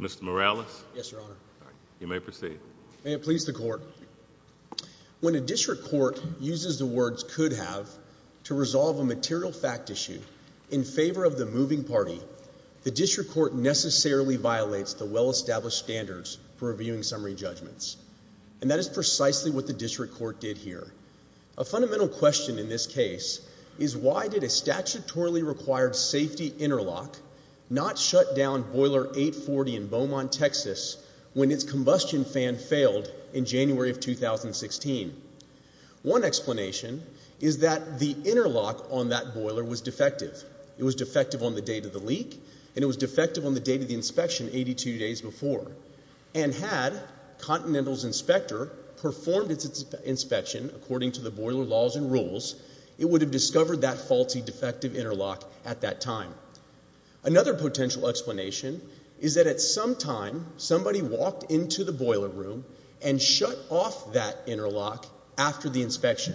Mr. Morales? Yes, Your Honor. You may proceed. May it please the Court. When a district court uses the words could have to resolve a material fact issue in favor of the moving party, the district court necessarily violates the well-established standards for reviewing summary judgments. And that is precisely what the district court did here. A fundamental question in this case is why did a statutorily required safety interlock not shut down boiler 840 in Beaumont, Texas, when its combustion fan failed in January of 2016? One explanation is that the interlock on that boiler was defective. It was defective on the date of the leak, and it was defective on the date of the inspection 82 days before. And had Continental's inspector performed its inspection according to the boiler laws and rules, it would have discovered that faulty, defective interlock at that time. Another potential explanation is that at some time, somebody walked into the boiler room and shut off that interlock after the inspection.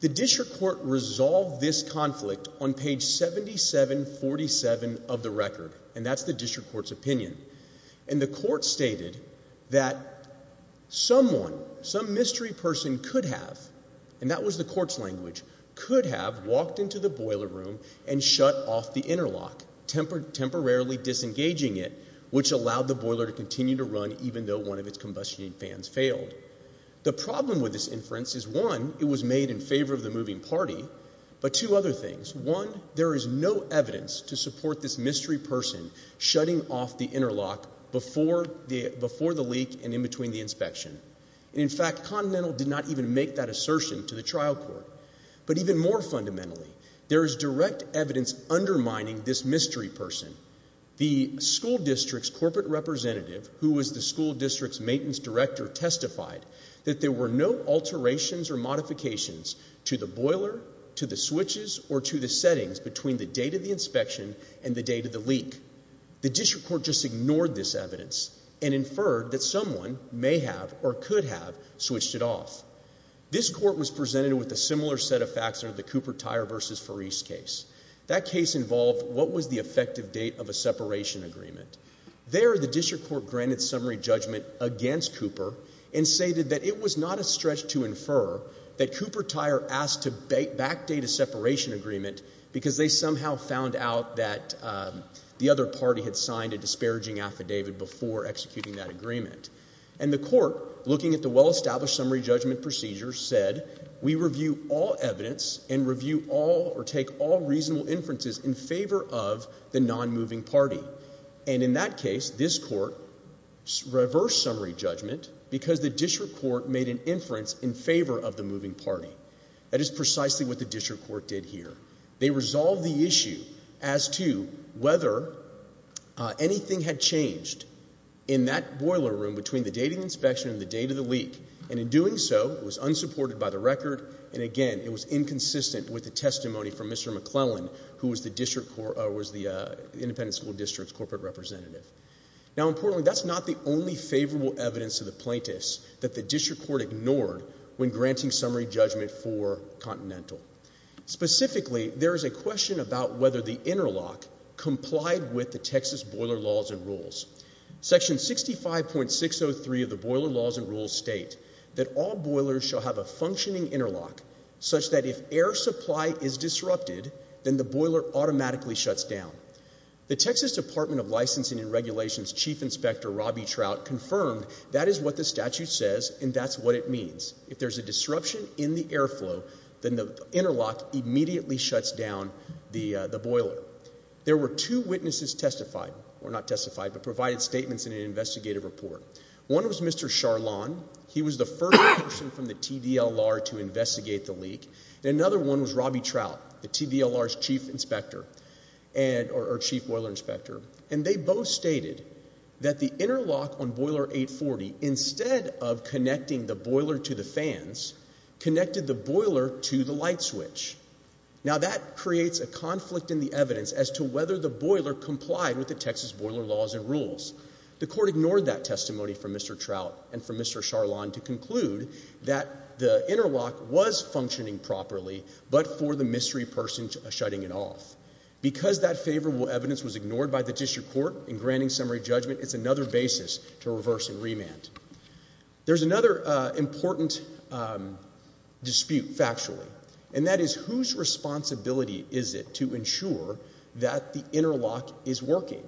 The district court resolved this conflict on page 7747 of the record, and that's the district court's opinion. And the court stated that someone, some mystery person could have, and that was the court's language, could have walked into the boiler room and shut off the interlock, temporarily disengaging it, which allowed the boiler to continue to run even though one of its combustion fans failed. The problem with this inference is, one, it was made in favor of the moving party, but two other things. One, there is no evidence to support this mystery person shutting off the interlock before the leak and in between the inspection. In fact, Continental did not even make that assertion to the trial court. But even more fundamentally, there is direct evidence undermining this mystery person. The school district's corporate representative, who was the school district's maintenance director, testified that there were no alterations or modifications to the boiler, to the switches, or to the settings between the date of the inspection and the date of the leak. The district court just ignored this evidence and inferred that someone may have or could have switched it off. This court was presented with a similar set of facts under the Cooper-Tyre v. Farice case. That case involved what was the effective date of a separation agreement. There, the district court granted summary judgment against Cooper and stated that it was a separation agreement because they somehow found out that the other party had signed a disparaging affidavit before executing that agreement. And the court, looking at the well-established summary judgment procedure, said, we review all evidence and review all or take all reasonable inferences in favor of the non-moving party. And in that case, this court reversed summary judgment because the district court made an inference in favor of the moving party. That is precisely what the district court did here. They resolved the issue as to whether anything had changed in that boiler room between the date of the inspection and the date of the leak. And in doing so, it was unsupported by the record, and again, it was inconsistent with the testimony from Mr. McClellan, who was the independent school district's corporate representative. Now, importantly, that's not the only favorable evidence to the plaintiffs that the district court ignored when granting summary judgment for Continental. Specifically, there is a question about whether the interlock complied with the Texas boiler laws and rules. Section 65.603 of the boiler laws and rules state that all boilers shall have a functioning interlock such that if air supply is disrupted, then the boiler automatically shuts down. The Texas Department of Licensing and Regulations Chief Inspector Robbie Trout confirmed that is what the statute says, and that's what it means. If there's a disruption in the airflow, then the interlock immediately shuts down the boiler. There were two witnesses testified, or not testified, but provided statements in an investigative report. One was Mr. Charlon. He was the first person from the TDLR to investigate the leak, and another one was Robbie Trout, the TDLR's chief inspector, or chief boiler inspector, and they both stated that the interlock on boiler 840, instead of connecting the boiler to the fans, connected the boiler to the light switch. Now, that creates a conflict in the evidence as to whether the boiler complied with the Texas boiler laws and rules. The court ignored that testimony from Mr. Trout and from Mr. Charlon to conclude that the interlock was functioning properly, but for the mystery person shutting it off. Because that favorable evidence was ignored by the district court in granting summary judgment, it's another basis to reverse and remand. There's another important dispute, factually, and that is whose responsibility is it to ensure that the interlock is working?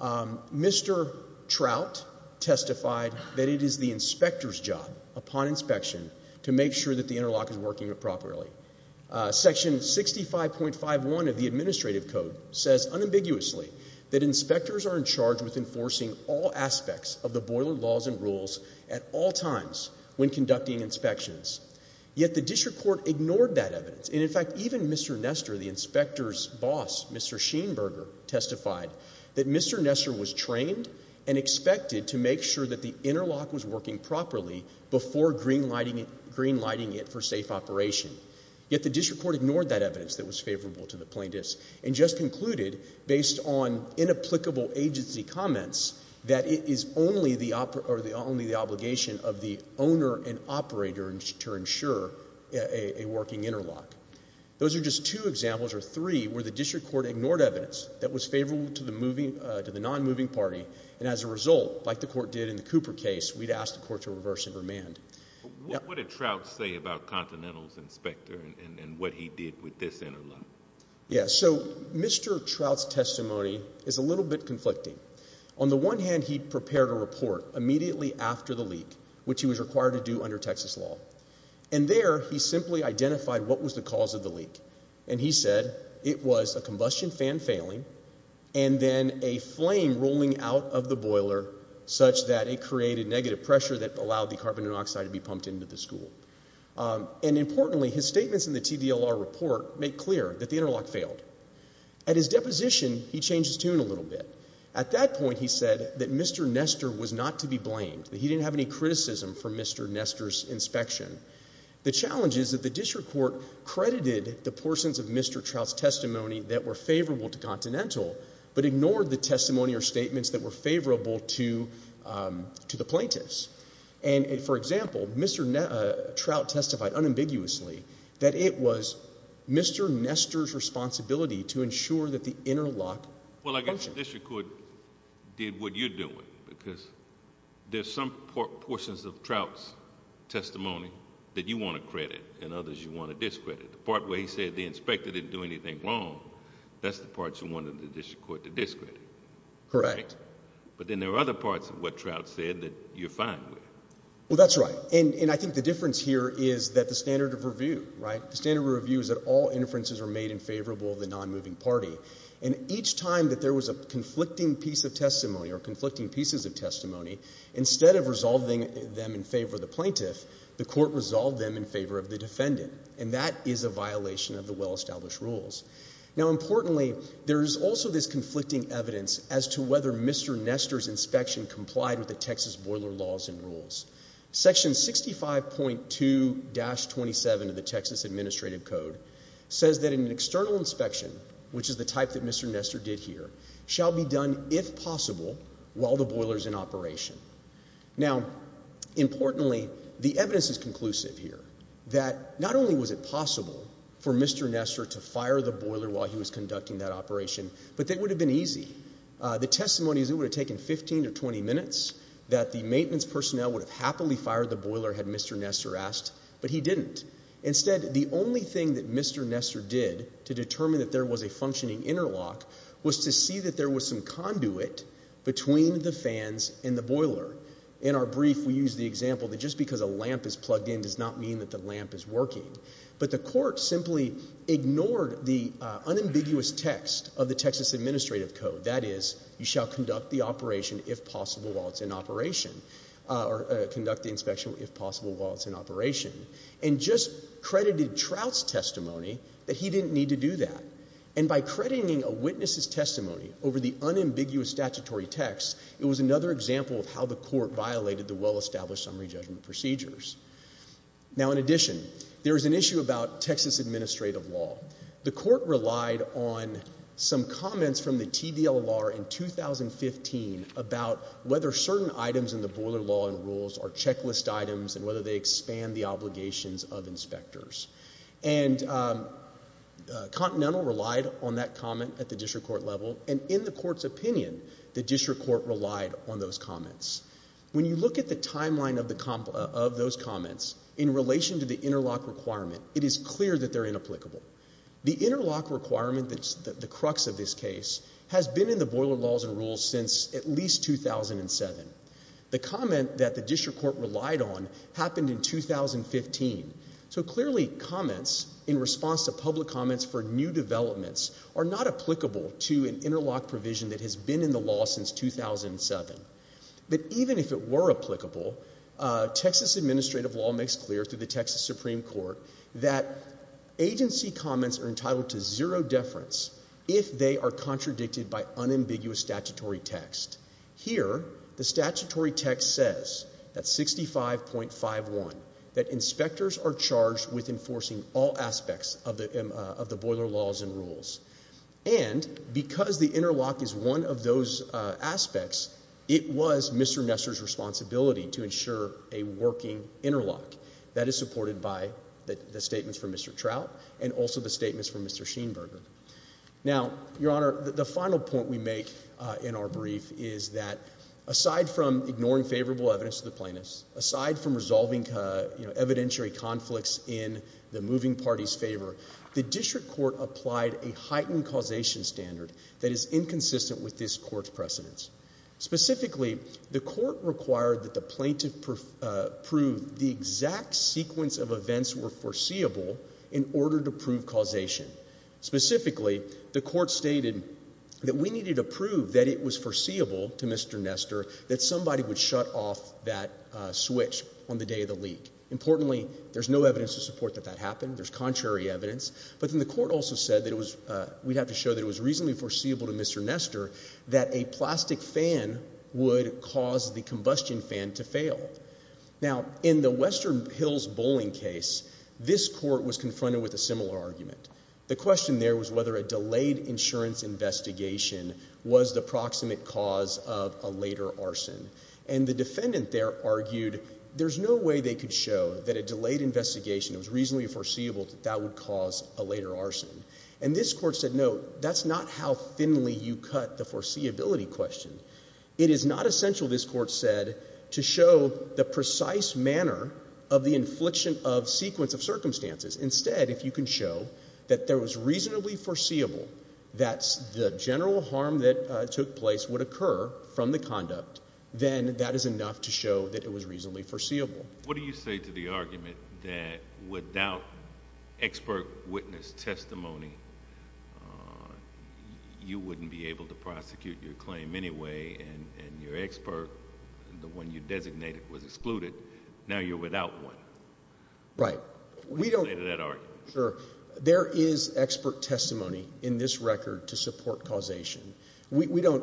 Mr. Trout testified that it is the inspector's job, upon inspection, to make sure that the interlock is working properly. Section 65.51 of the administrative code says, unambiguously, that inspectors are in charge with enforcing all aspects of the boiler laws and rules at all times when conducting inspections. Yet the district court ignored that evidence. And, in fact, even Mr. Nestor, the inspector's boss, Mr. Sheenberger, testified that Mr. Nestor was trained and expected to make sure that the interlock was working properly before green lighting it for safe operation. Yet the district court ignored that evidence that was favorable to the plaintiffs and just concluded, based on inapplicable agency comments, that it is only the obligation of the owner and operator to ensure a working interlock. Those are just two examples, or three, where the district court ignored evidence that was favorable to the non-moving party and, as a result, like the court did in the Cooper case, we'd ask the court to reverse and remand. What did Trout say about Continental's inspector and what he did with this interlock? Yeah, so Mr. Trout's testimony is a little bit conflicting. On the one hand, he prepared a report immediately after the leak, which he was required to do under Texas law. And there, he simply identified what was the cause of the leak. And he said it was a combustion fan failing and then a flame rolling out of the boiler such that it created negative pressure that allowed the carbon monoxide to be pumped into the school. And, importantly, his statements in the TDLR report make clear that the interlock failed. At his deposition, he changed his tune a little bit. At that point, he said that Mr. Nestor was not to be blamed, that he didn't have any criticism for Mr. Nestor's inspection. The challenge is that the district court credited the portions of Mr. Trout's testimony that were favorable to Continental but ignored the testimony or statements that were favorable to the plaintiffs. And, for example, Mr. Trout testified unambiguously that it was Mr. Nestor's responsibility to ensure that the interlock functioned. Well, I guess the district court did what you're doing because there's some portions of Trout's testimony that you want to credit and others you want to discredit. The part where he said the inspector didn't do anything wrong, that's the part you wanted the district court to discredit. Correct. But then there are other parts of what Trout said that you're fine with. Well, that's right. And I think the difference here is that the standard of review, right? The standard of review is that all inferences are made in favorable of the non-moving party. And each time that there was a conflicting piece of testimony or conflicting pieces of testimony, instead of resolving them in favor of the plaintiff, the court resolved them in favor of the defendant. And that is a violation of the well-established rules. Now, importantly, there is also this conflicting evidence as to whether Mr. Nestor's inspection complied with the Texas boiler laws and rules. Section 65.2-27 of the Texas Administrative Code says that an external inspection, which is the type that Mr. Nestor did here, shall be done if possible while the boiler is in operation. Now, importantly, the evidence is conclusive here that not only was it possible for Mr. Nestor to fire a boiler while he was conducting that operation, but that it would have been easy. The testimony is it would have taken 15 to 20 minutes, that the maintenance personnel would have happily fired the boiler had Mr. Nestor asked, but he didn't. Instead, the only thing that Mr. Nestor did to determine that there was a functioning interlock was to see that there was some conduit between the fans and the boiler. In our brief, we use the example that just because a lamp is plugged in does not mean that the lamp is working. But the court simply ignored the unambiguous text of the Texas Administrative Code, that is, you shall conduct the operation if possible while it's in operation, or conduct the inspection if possible while it's in operation, and just credited Trout's testimony that he didn't need to do that. And by crediting a witness's testimony over the unambiguous statutory text, it was another example of how the court violated the well-established summary judgment procedures. Now, in addition, there is an issue about Texas administrative law. The court relied on some comments from the TVLR in 2015 about whether certain items in the boiler law and rules are checklist items and whether they expand the obligations of inspectors. And Continental relied on that comment at the district court level, and in the court's opinion, the district court relied on those comments. When you look at the timeline of those comments in relation to the interlock requirement, it is clear that they're inapplicable. The interlock requirement that's the crux of this case has been in the boiler laws and rules since at least 2007. The comment that the district court relied on happened in 2015. So clearly, comments in response to public comments for new developments are not applicable to an interlock provision that has been in the law since 2007. But even if it were applicable, Texas administrative law makes clear through the Texas Supreme Court that agency comments are entitled to zero deference if they are contradicted by unambiguous statutory text. Here, the statutory text says, at 65.51, that inspectors are charged with enforcing all aspects of the boiler laws and rules. And because the interlock is one of those aspects, it was Mr. Messer's responsibility to ensure a working interlock. That is supported by the statements from Mr. Trout and also the statements from Mr. Sheenberger. Now, Your Honor, the final point we make in our brief is that aside from ignoring favorable evidence to the plaintiffs, aside from resolving evidentiary conflicts in the moving party's a heightened causation standard that is inconsistent with this court's precedents. Specifically, the court required that the plaintiff prove the exact sequence of events were foreseeable in order to prove causation. Specifically, the court stated that we needed to prove that it was foreseeable to Mr. Nestor that somebody would shut off that switch on the day of the leak. Importantly, there's no evidence to support that that happened. There's contrary evidence. But then the court also said that we'd have to show that it was reasonably foreseeable to Mr. Nestor that a plastic fan would cause the combustion fan to fail. Now, in the Western Hills bowling case, this court was confronted with a similar argument. The question there was whether a delayed insurance investigation was the proximate cause of a later arson. And the defendant there argued there's no way they could show that a delayed investigation was reasonably foreseeable that that would cause a later arson. And this court said, no, that's not how thinly you cut the foreseeability question. It is not essential, this court said, to show the precise manner of the infliction of sequence of circumstances. Instead, if you can show that there was reasonably foreseeable that the general harm that took place would occur from the conduct, then that is enough to show that it was reasonably foreseeable. What do you say to the argument that without expert witness testimony, you wouldn't be able to prosecute your claim anyway, and your expert, the one you designated, was excluded. Now you're without one. Right. What do you say to that argument? Sure. There is expert testimony in this record to support causation. We don't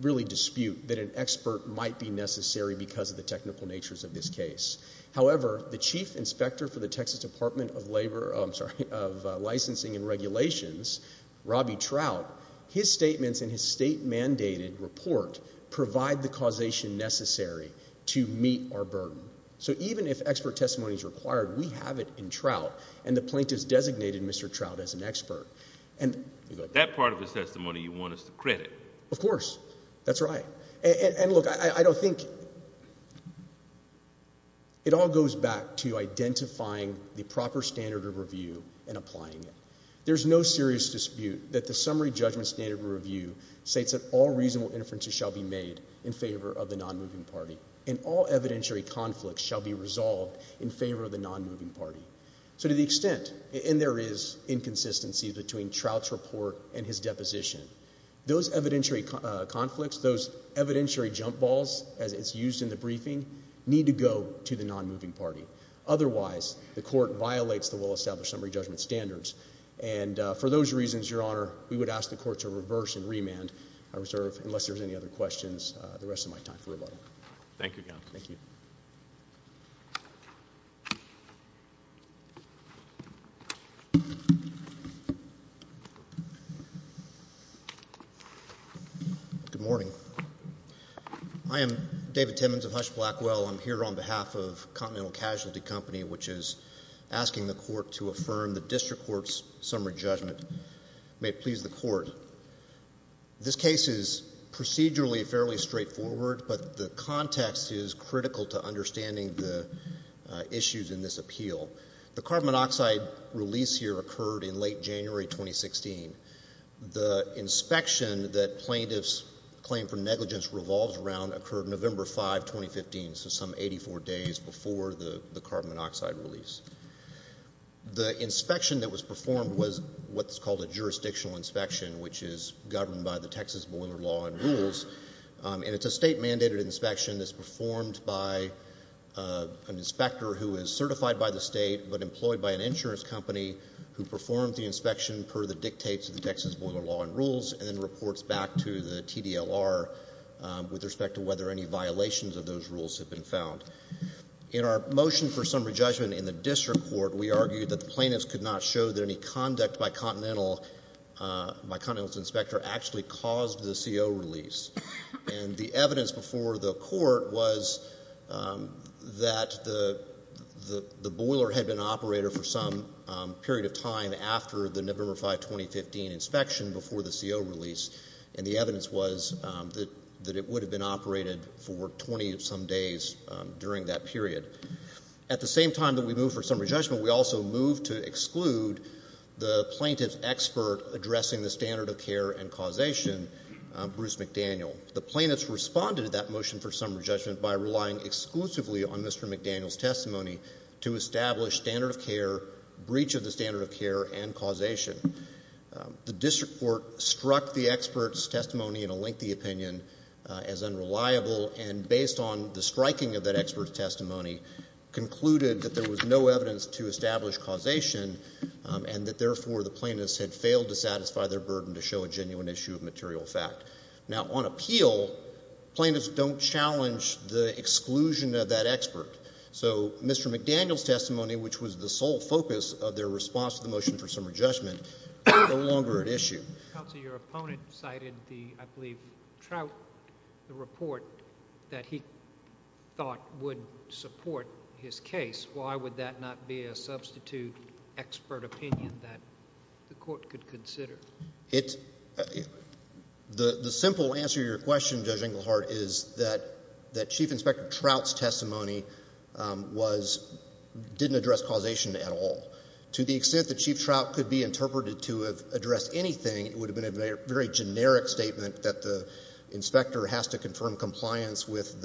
really dispute that an expert might be necessary because of the technical natures of this case. However, the chief inspector for the Texas Department of Labor, I'm sorry, of Licensing and Regulations, Robbie Trout, his statements in his state-mandated report provide the causation necessary to meet our burden. So even if expert testimony is required, we have it in Trout, and the plaintiff's designated Mr. Trout as an expert. That part of the testimony you want us to credit. Of course. That's right. And look, I don't think it all goes back to identifying the proper standard of review and applying it. There's no serious dispute that the summary judgment standard of review states that all reasonable inferences shall be made in favor of the nonmoving party, and all evidentiary conflicts shall be resolved in favor of the nonmoving party. So to the extent, and there is inconsistency between Trout's report and his deposition, those evidentiary conflicts, those evidentiary jump balls, as it's used in the briefing, need to go to the nonmoving party. Otherwise, the court violates the well-established summary judgment standards. And for those reasons, Your Honor, we would ask the court to reverse and remand our reserve unless there's any other questions. The rest of my time. Thank you, Your Honor. Thank you. Good morning. I am David Timmons of Hush Blackwell. I'm here on behalf of Continental Casualty Company, which is asking the court to affirm the district court's summary judgment. May it please the court. This case is procedurally fairly straightforward, but the context is critical to understanding the issues in this appeal. The carbon monoxide release here occurred in late January 2016. The inspection that plaintiffs claim for negligence revolves around occurred November 5, 2015, so some 84 days before the carbon monoxide release. The inspection that was performed was what's called a jurisdictional inspection, which is governed by the Texas Boiler Law and Rules, and it's a state-mandated inspection that's an inspector who is certified by the state but employed by an insurance company who performs the inspection per the dictates of the Texas Boiler Law and Rules and then reports back to the TDLR with respect to whether any violations of those rules have been found. In our motion for summary judgment in the district court, we argued that the plaintiffs could not show that any conduct by Continental's inspector actually caused the CO release. And the evidence before the court was that the boiler had been operated for some period of time after the November 5, 2015, inspection before the CO release, and the evidence was that it would have been operated for 20-some days during that period. At the same time that we moved for summary judgment, we also moved to exclude the plaintiff's expert addressing the standard of care and causation, Bruce McDaniel. The plaintiffs responded to that motion for summary judgment by relying exclusively on Mr. McDaniel's testimony to establish standard of care, breach of the standard of care, and causation. The district court struck the expert's testimony in a lengthy opinion as unreliable and, based on the striking of that expert's testimony, concluded that there was no evidence to establish causation and that, therefore, the plaintiffs had failed to satisfy their burden to show a genuine issue of material fact. Now, on appeal, plaintiffs don't challenge the exclusion of that expert. So Mr. McDaniel's testimony, which was the sole focus of their response to the motion for summary judgment, is no longer at issue. Counsel, your opponent cited the – I believe Trout – the report that he thought would support his case. Why would that not be a substitute expert opinion that the court could consider? It's – the simple answer to your question, Judge Englehart, is that Chief Inspector Trout's testimony was – didn't address causation at all. To the extent that Chief Trout could be interpreted to have addressed anything, it would have been a very generic statement that the inspector has to confirm compliance with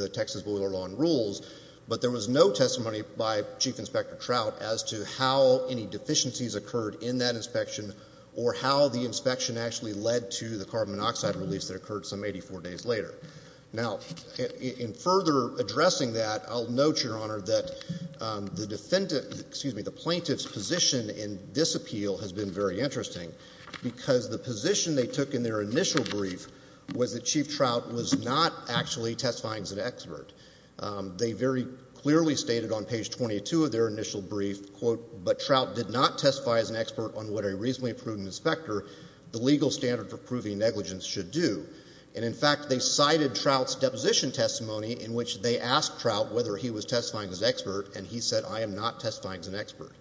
rules, but there was no testimony by Chief Inspector Trout as to how any deficiencies occurred in that inspection or how the inspection actually led to the carbon monoxide release that occurred some 84 days later. Now, in further addressing that, I'll note, Your Honor, that the defendant – excuse me, the plaintiff's position in this appeal has been very interesting because the position they took in their initial brief was that Chief Trout was not actually testifying as an expert. They very clearly stated on page 22 of their initial brief, quote, but Trout did not testify as an expert on what a reasonably prudent inspector, the legal standard for proving negligence, should do. And in fact, they cited Trout's deposition testimony in which they asked Trout whether he was testifying as an expert, and he said, I am not testifying as an expert.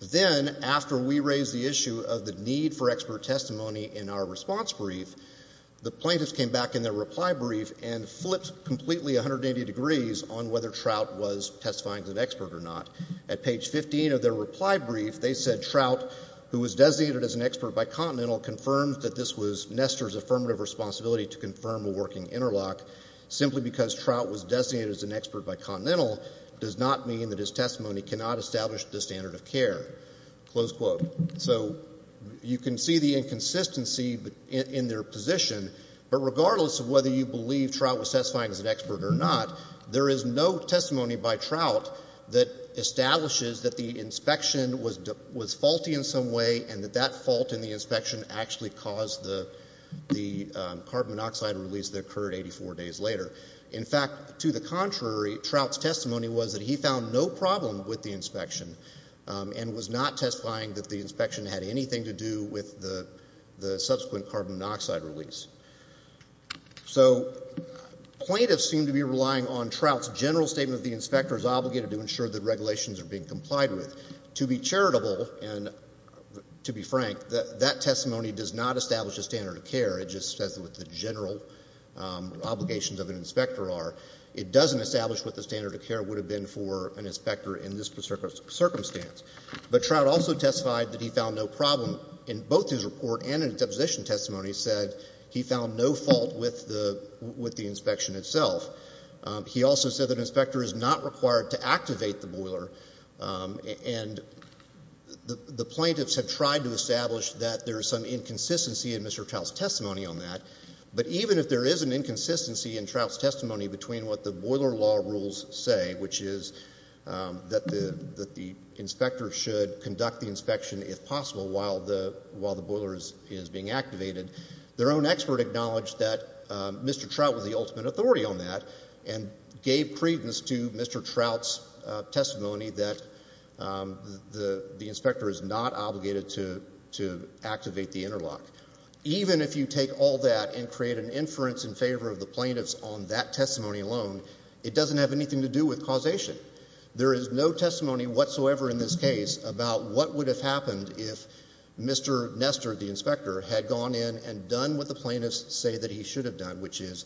Then, after we raised the issue of the need for expert testimony in our response brief, the plaintiffs came back in their reply brief and flipped completely 180 degrees on whether Trout was testifying as an expert or not. At page 15 of their reply brief, they said Trout, who was designated as an expert by Continental, confirmed that this was Nestor's affirmative responsibility to confirm a working interlock. Simply because Trout was designated as an expert by Continental does not mean that his testimony cannot establish the standard of care, close quote. So you can see the inconsistency in their position, but regardless of whether you believe Trout was testifying as an expert or not, there is no testimony by Trout that establishes that the inspection was faulty in some way and that that fault in the inspection actually caused the carbon monoxide release that occurred 84 days later. In fact, to the contrary, Trout's testimony was that he found no problem with the inspection, had anything to do with the subsequent carbon monoxide release. So plaintiffs seem to be relying on Trout's general statement that the inspector is obligated to ensure that regulations are being complied with. To be charitable and to be frank, that testimony does not establish a standard of care. It just says what the general obligations of an inspector are. It doesn't establish what the standard of care would have been for an inspector in this circumstance. But Trout also testified that he found no problem in both his report and in his deposition testimony said he found no fault with the inspection itself. He also said that an inspector is not required to activate the boiler, and the plaintiffs have tried to establish that there is some inconsistency in Mr. Trout's testimony on that. But even if there is an inconsistency in Trout's testimony between what the boiler law rules say, which is that the inspector should conduct the inspection if possible while the boiler is being activated, their own expert acknowledged that Mr. Trout was the ultimate authority on that and gave credence to Mr. Trout's testimony that the inspector is not obligated to activate the interlock. Even if you take all that and create an inference in favor of the plaintiffs on that case, it doesn't have anything to do with causation. There is no testimony whatsoever in this case about what would have happened if Mr. Nestor, the inspector, had gone in and done what the plaintiffs say that he should have done, which is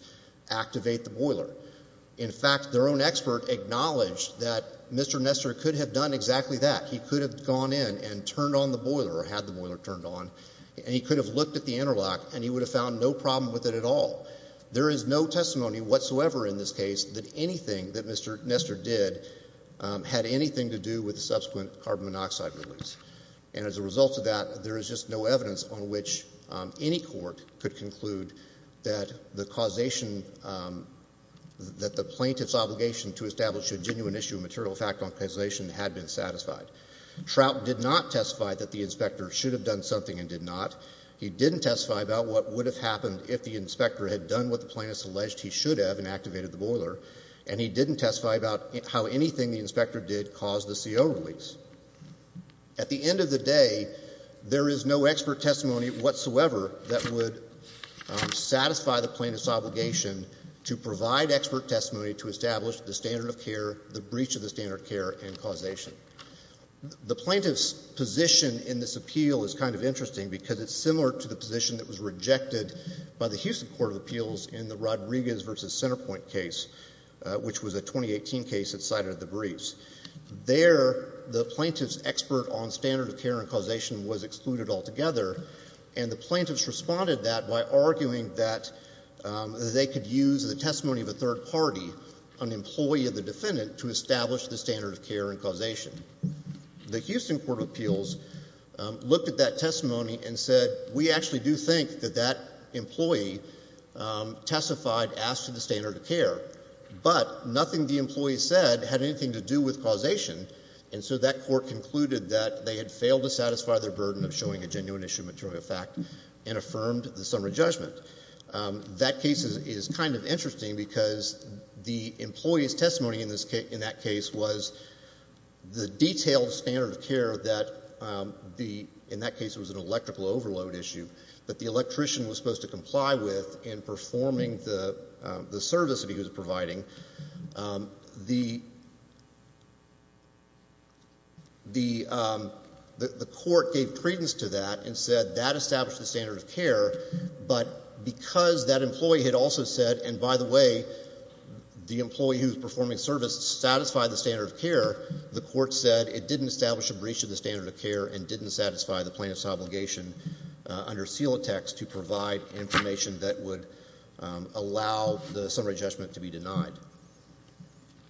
activate the boiler. In fact, their own expert acknowledged that Mr. Nestor could have done exactly that. He could have gone in and turned on the boiler or had the boiler turned on, and he could have looked at the interlock and he would have found no problem with it at all. But there is no testimony whatsoever in this case that anything that Mr. Nestor did had anything to do with the subsequent carbon monoxide release. And as a result of that, there is just no evidence on which any court could conclude that the causation, that the plaintiff's obligation to establish a genuine issue of material fact on causation had been satisfied. Trout did not testify that the inspector should have done something and did not. He didn't testify about what would have happened if the inspector had done what the plaintiffs alleged he should have and activated the boiler, and he didn't testify about how anything the inspector did caused the CO release. At the end of the day, there is no expert testimony whatsoever that would satisfy the plaintiff's obligation to provide expert testimony to establish the standard of care, the breach of the standard of care, and causation. The plaintiff's position in this appeal is kind of interesting because it's similar to the position that was rejected by the Houston Court of Appeals in the Rodriguez v. Centerpoint case, which was a 2018 case that cited the briefs. There the plaintiff's expert on standard of care and causation was excluded altogether, and the plaintiffs responded that by arguing that they could use the testimony of a third party, an employee of the defendant, to establish the standard of care and causation. The Houston Court of Appeals looked at that testimony and said we actually do think that that employee testified as to the standard of care, but nothing the employee said had anything to do with causation, and so that court concluded that they had failed to satisfy their burden of showing a genuine issue of material fact and affirmed the summary judgment. That case is kind of interesting because the employee's testimony in that case was the detailed standard of care that the, in that case it was an electrical overload issue, that the electrician was supposed to comply with in performing the service that he was providing. The court gave credence to that and said that established the standard of care, but because that employee had also said, and by the way, the employee who was providing the standard of care, the court said it didn't establish a breach of the standard of care and didn't satisfy the plaintiff's obligation under seal text to provide information that would allow the summary judgment to be denied.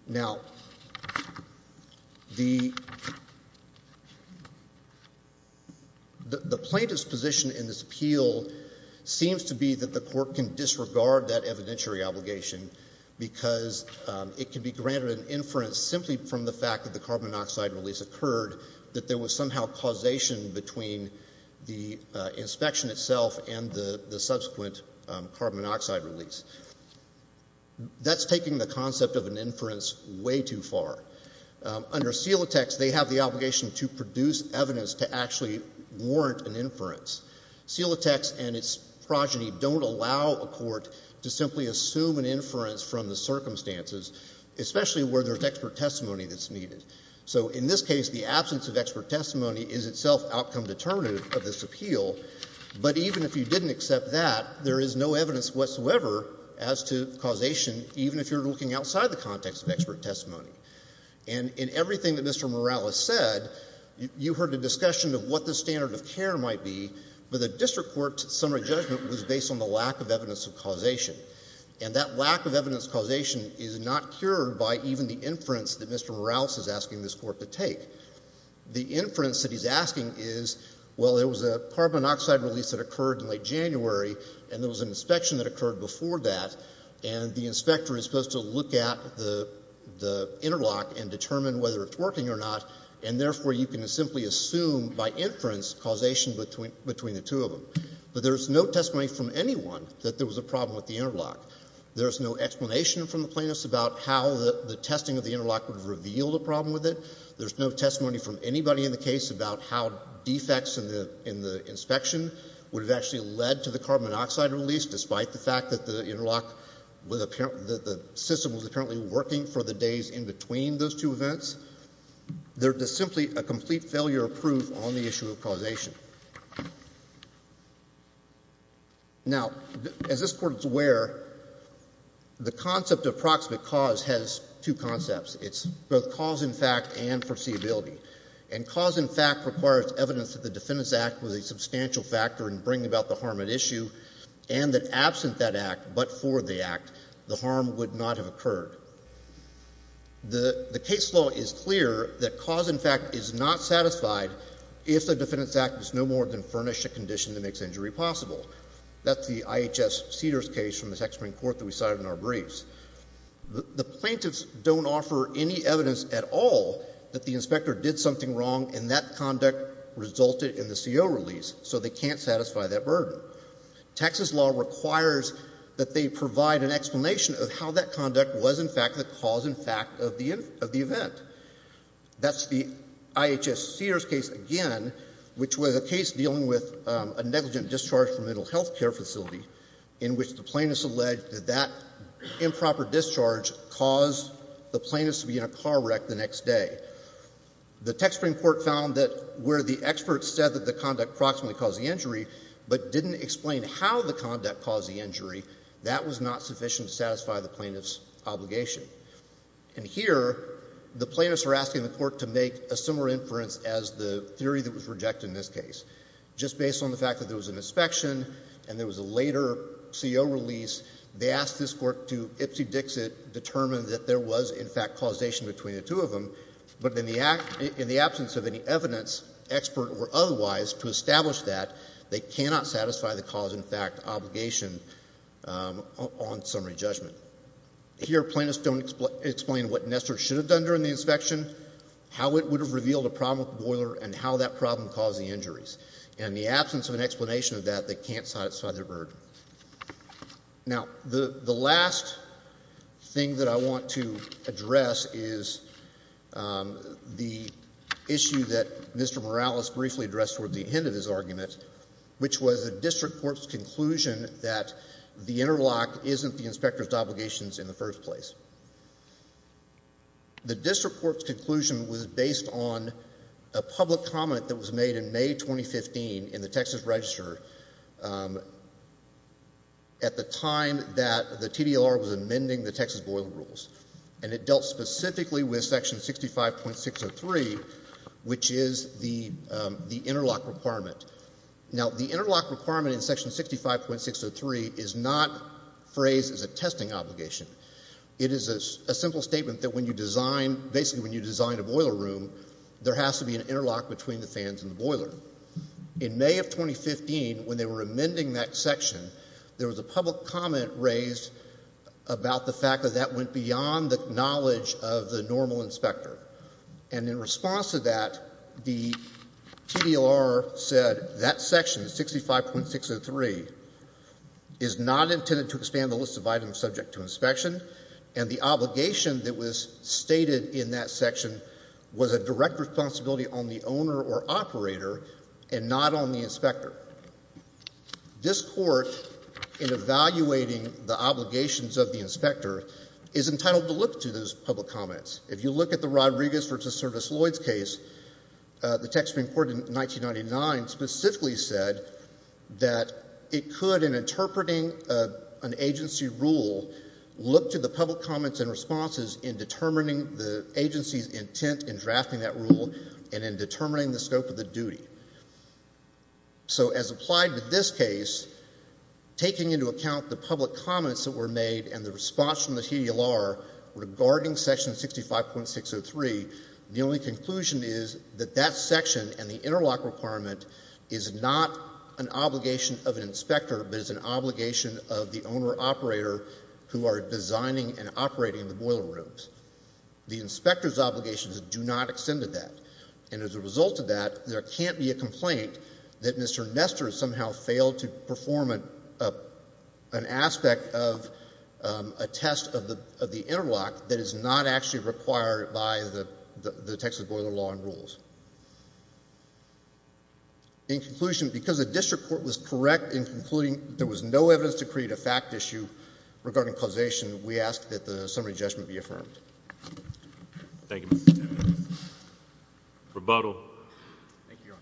Now, the plaintiff's position in this appeal seems to be that the court can disregard that evidentiary obligation because it can be granted an inference simply from the fact that the carbon monoxide release occurred, that there was somehow causation between the inspection itself and the subsequent carbon monoxide release. That's taking the concept of an inference way too far. Under seal text, they have the obligation to produce evidence to actually warrant an inference. Seal text and its progeny don't allow a court to simply assume an inference from the circumstances, especially where there's expert testimony that's needed. So in this case, the absence of expert testimony is itself outcome determinative of this appeal, but even if you didn't accept that, there is no evidence whatsoever as to causation, even if you're looking outside the context of expert testimony. And in everything that Mr. Morales said, you heard a discussion of what the standard of care might be, but the district court's summary judgment was based on the lack of evidence of causation. And that lack of evidence of causation is not cured by even the inference that Mr. Morales is asking this court to take. The inference that he's asking is, well, there was a carbon monoxide release that occurred in late January, and there was an inspection that occurred before that, and the inspector is supposed to look at the interlock and determine whether it's working or not, and therefore you can simply assume by inference causation between the two of them. But there's no testimony from anyone that there was a problem with the interlock. There's no explanation from the plaintiffs about how the testing of the interlock would have revealed a problem with it. There's no testimony from anybody in the case about how defects in the inspection would have actually led to the carbon monoxide release, despite the fact that the interlock, that the system was apparently working for the days in between those two events. There is simply a complete failure of proof on the issue of causation. Now, as this Court is aware, the concept of proximate cause has two concepts. It's both cause in fact and foreseeability. And cause in fact requires evidence that the Defendant's Act was a substantial factor in bringing about the harm at issue, and that absent that Act, but for the Act, the harm would not have occurred. The case law is clear that cause in fact is not satisfied if the Defendant's Act is no more than furnish a condition that makes injury possible. That's the IHS Cedars case from the Texas Supreme Court that we cited in our briefs. The plaintiffs don't offer any evidence at all that the inspector did something wrong and that conduct resulted in the CO release, so they can't satisfy that burden. Texas law requires that they provide an explanation of how that conduct was in fact the cause in fact of the event. That's the IHS Cedars case again, which was a case dealing with a negligent discharge from a mental health care facility in which the plaintiffs alleged that that improper discharge caused the plaintiffs to be in a car wreck the next day. The Texas Supreme Court found that where the experts said that the conduct proximately caused the injury, but didn't explain how the conduct caused the injury, that was not sufficient to satisfy the plaintiffs' obligation. And here, the plaintiffs are asking the Court to make a similar inference as the theory that was rejected in this case. Just based on the fact that there was an inspection and there was a later CO release, they asked this Court to ipsy-dixit determine that there was in fact causation between the two of them, but in the absence of any evidence, expert or otherwise, to establish that, they cannot satisfy the cause in fact obligation on summary judgment. Here, plaintiffs don't explain what Nestor should have done during the inspection, how it would have revealed a problem with the boiler, and how that problem caused the injuries. In the absence of an explanation of that, they can't satisfy their burden. Now, the last thing that I want to address is the issue that Mr. Morales briefly addressed toward the end of his argument, which was a district court's conclusion that the interlock isn't the inspector's obligations in the first place. The district court's conclusion was based on a public comment that was made in May 2015 in the Texas Register at the time that the TDLR was amending the Texas boiler rules, and it dealt specifically with section 65.603, which is the interlock requirement. Now, the interlock requirement in section 65.603 is not phrased as a testing obligation. It is a simple statement that when you design, basically when you design a boiler room, there has to be an interlock between the fans and the boiler. In May of 2015, when they were amending that section, there was a public comment raised about the fact that that went beyond the knowledge of the normal inspector. And in response to that, the TDLR said that section, 65.603, is not intended to expand the list of items subject to inspection, and the obligation that was stated in that section was a direct responsibility on the owner or operator and not on the inspector. This court, in evaluating the obligations of the inspector, is entitled to look to those public comments. If you look at the Rodriguez versus Service-Lloyds case, the Texas Supreme Court in 1999 specifically said that it could, in interpreting an agency rule, look to the public comments and responses in determining the agency's intent in drafting that rule and in determining the scope of the duty. So as applied to this case, taking into account the public comments that were made in 65.603, the only conclusion is that that section and the interlock requirement is not an obligation of an inspector, but is an obligation of the owner-operator who are designing and operating the boiler rooms. The inspector's obligations do not extend to that. And as a result of that, there can't be a complaint that Mr. Nestor somehow failed to perform an aspect of a test of the interlock that is not actually required by the Texas boiler law and rules. In conclusion, because the district court was correct in concluding there was no evidence to create a fact issue regarding causation, we ask that the summary judgment be affirmed. Thank you, Mr. Chairman. Rebuttal. Thank you,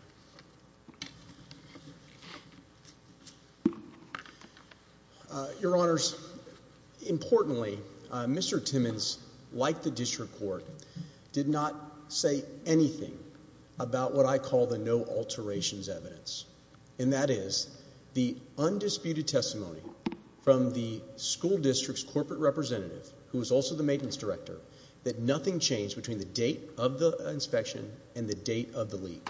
Your Honor. Your Honors, importantly, Mr. Timmons, like the district court, did not say anything about what I call the no alterations evidence. And that is the undisputed testimony from the school district's corporate representative, who is also the maintenance director, that nothing changed between the date of the inspection and the date of the leak.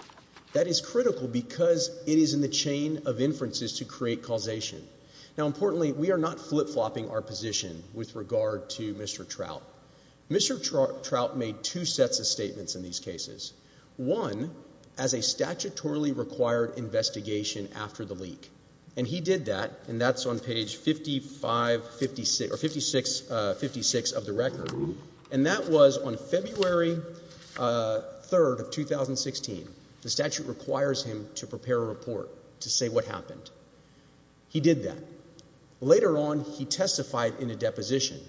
That is critical because it is in the chain of inferences to create causation. Now, importantly, we are not flip-flopping our position with regard to Mr. Trout. Mr. Trout made two sets of statements in these cases. One, as a statutorily required investigation after the leak. And he did that, and that's on page 5556 of the record. And that was on February 3rd of 2016. The statute requires him to prepare a report to say what happened. He did that. Later on, he testified in a deposition.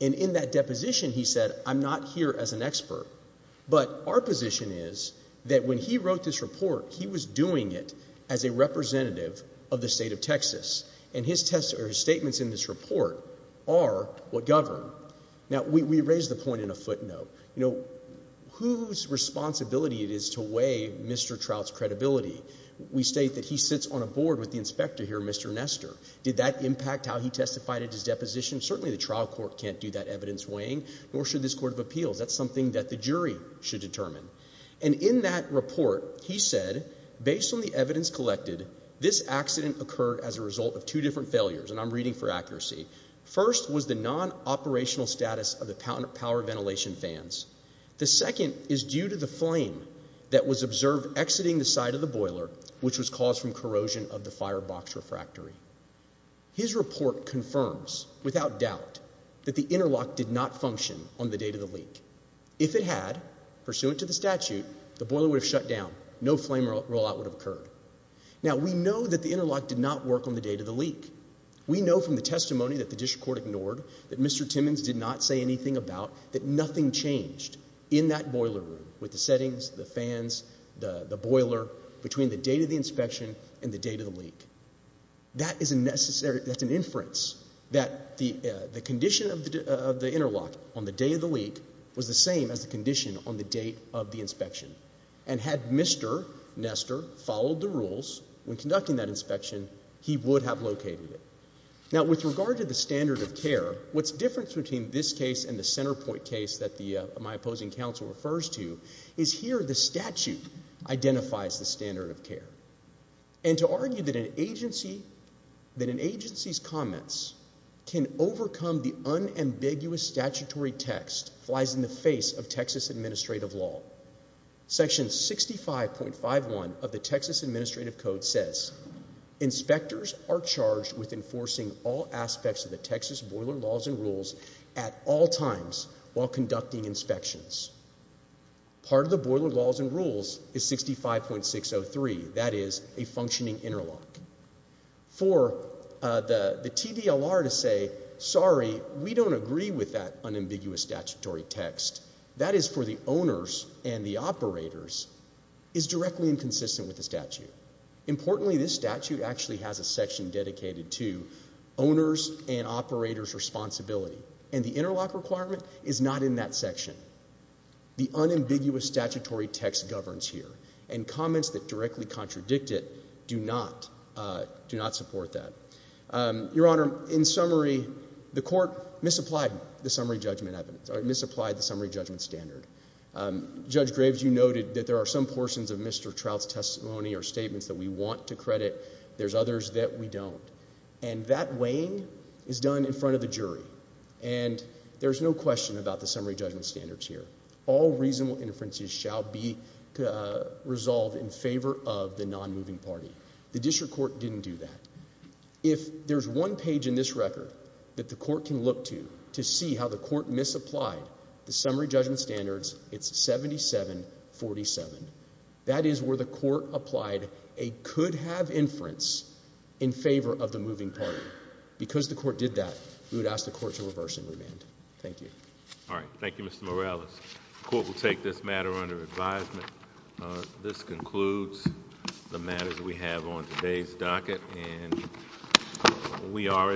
And in that deposition, he said, I'm not here as an expert, but our position is that when he wrote this report, he was doing it as a representative of the state of Texas. And his statements in this report are what govern. Now, we raise the point in a footnote. You know, whose responsibility it is to weigh Mr. Trout's credibility? We state that he sits on a board with the inspector here, Mr. Nester. Did that impact how he testified at his deposition? Certainly the trial court can't do that evidence weighing, nor should this court of appeals. That's something that the jury should determine. And in that report, he said, based on the evidence collected, this accident occurred as a result of two different failures. And I'm reading for accuracy. First was the non-operational status of the power ventilation fans. The second is due to the flame that was observed exiting the side of the boiler, which was caused from corrosion of the firebox refractory. His report confirms, without doubt, that the interlock did not function on the day of the leak. If it had, pursuant to the statute, the boiler would have shut down. No flame rollout would have occurred. Now, we know that the interlock did not work on the day of the leak. We know from the testimony that the district court ignored, that Mr. Timmons did not say anything about, that nothing changed in that boiler room, with the settings, the fans, the boiler, between the date of the inspection and the date of the leak. That is a necessary, that's an inference, that the condition of the interlock on the day of the leak was the same as the condition on the date of the inspection. And had Mr. Nester followed the rules when conducting that inspection, he would have located it. Now, with regard to the standard of care, what's different between this case and the Centerpoint case that my opposing counsel refers to, is here the statute identifies the standard of care. And to argue that an agency's comments can overcome the unambiguous statutory text flies in the face of Texas administrative law. Section 65.51 of the Texas administrative code says, inspectors are charged with enforcing all aspects of the Texas boiler laws and rules at all times while conducting inspections. Part of the boiler laws and rules is 65.603, that is a functioning interlock. For the TVLR to say, sorry, we don't agree with that unambiguous statutory text, that is for the owners and the operators, is directly inconsistent with the statute. Importantly, this statute actually has a section dedicated to owners and operators' responsibility. And the interlock requirement is not in that section. The unambiguous statutory text governs here. And comments that directly contradict it do not support that. Your Honor, in summary, the court misapplied the summary judgment standard. Judge Graves, you noted that there are some portions of Mr. Trout's testimony or statements that we want to credit. There's others that we don't. And that weighing is done in front of the jury. And there's no question about the summary judgment standards here. All reasonable inferences shall be resolved in favor of the non-moving party. The district court didn't do that. If there's one page in this record that the court can look to to see how the court misapplied the summary judgment standards, it's 7747. That is where the court applied a could-have inference in favor of the moving party. Because the court did that, we would ask the court to reverse and remand. Thank you. All right. Thank you, Mr. Morales. The court will take this matter under advisement. This concludes the matters we have on today's docket. And we are adjourned.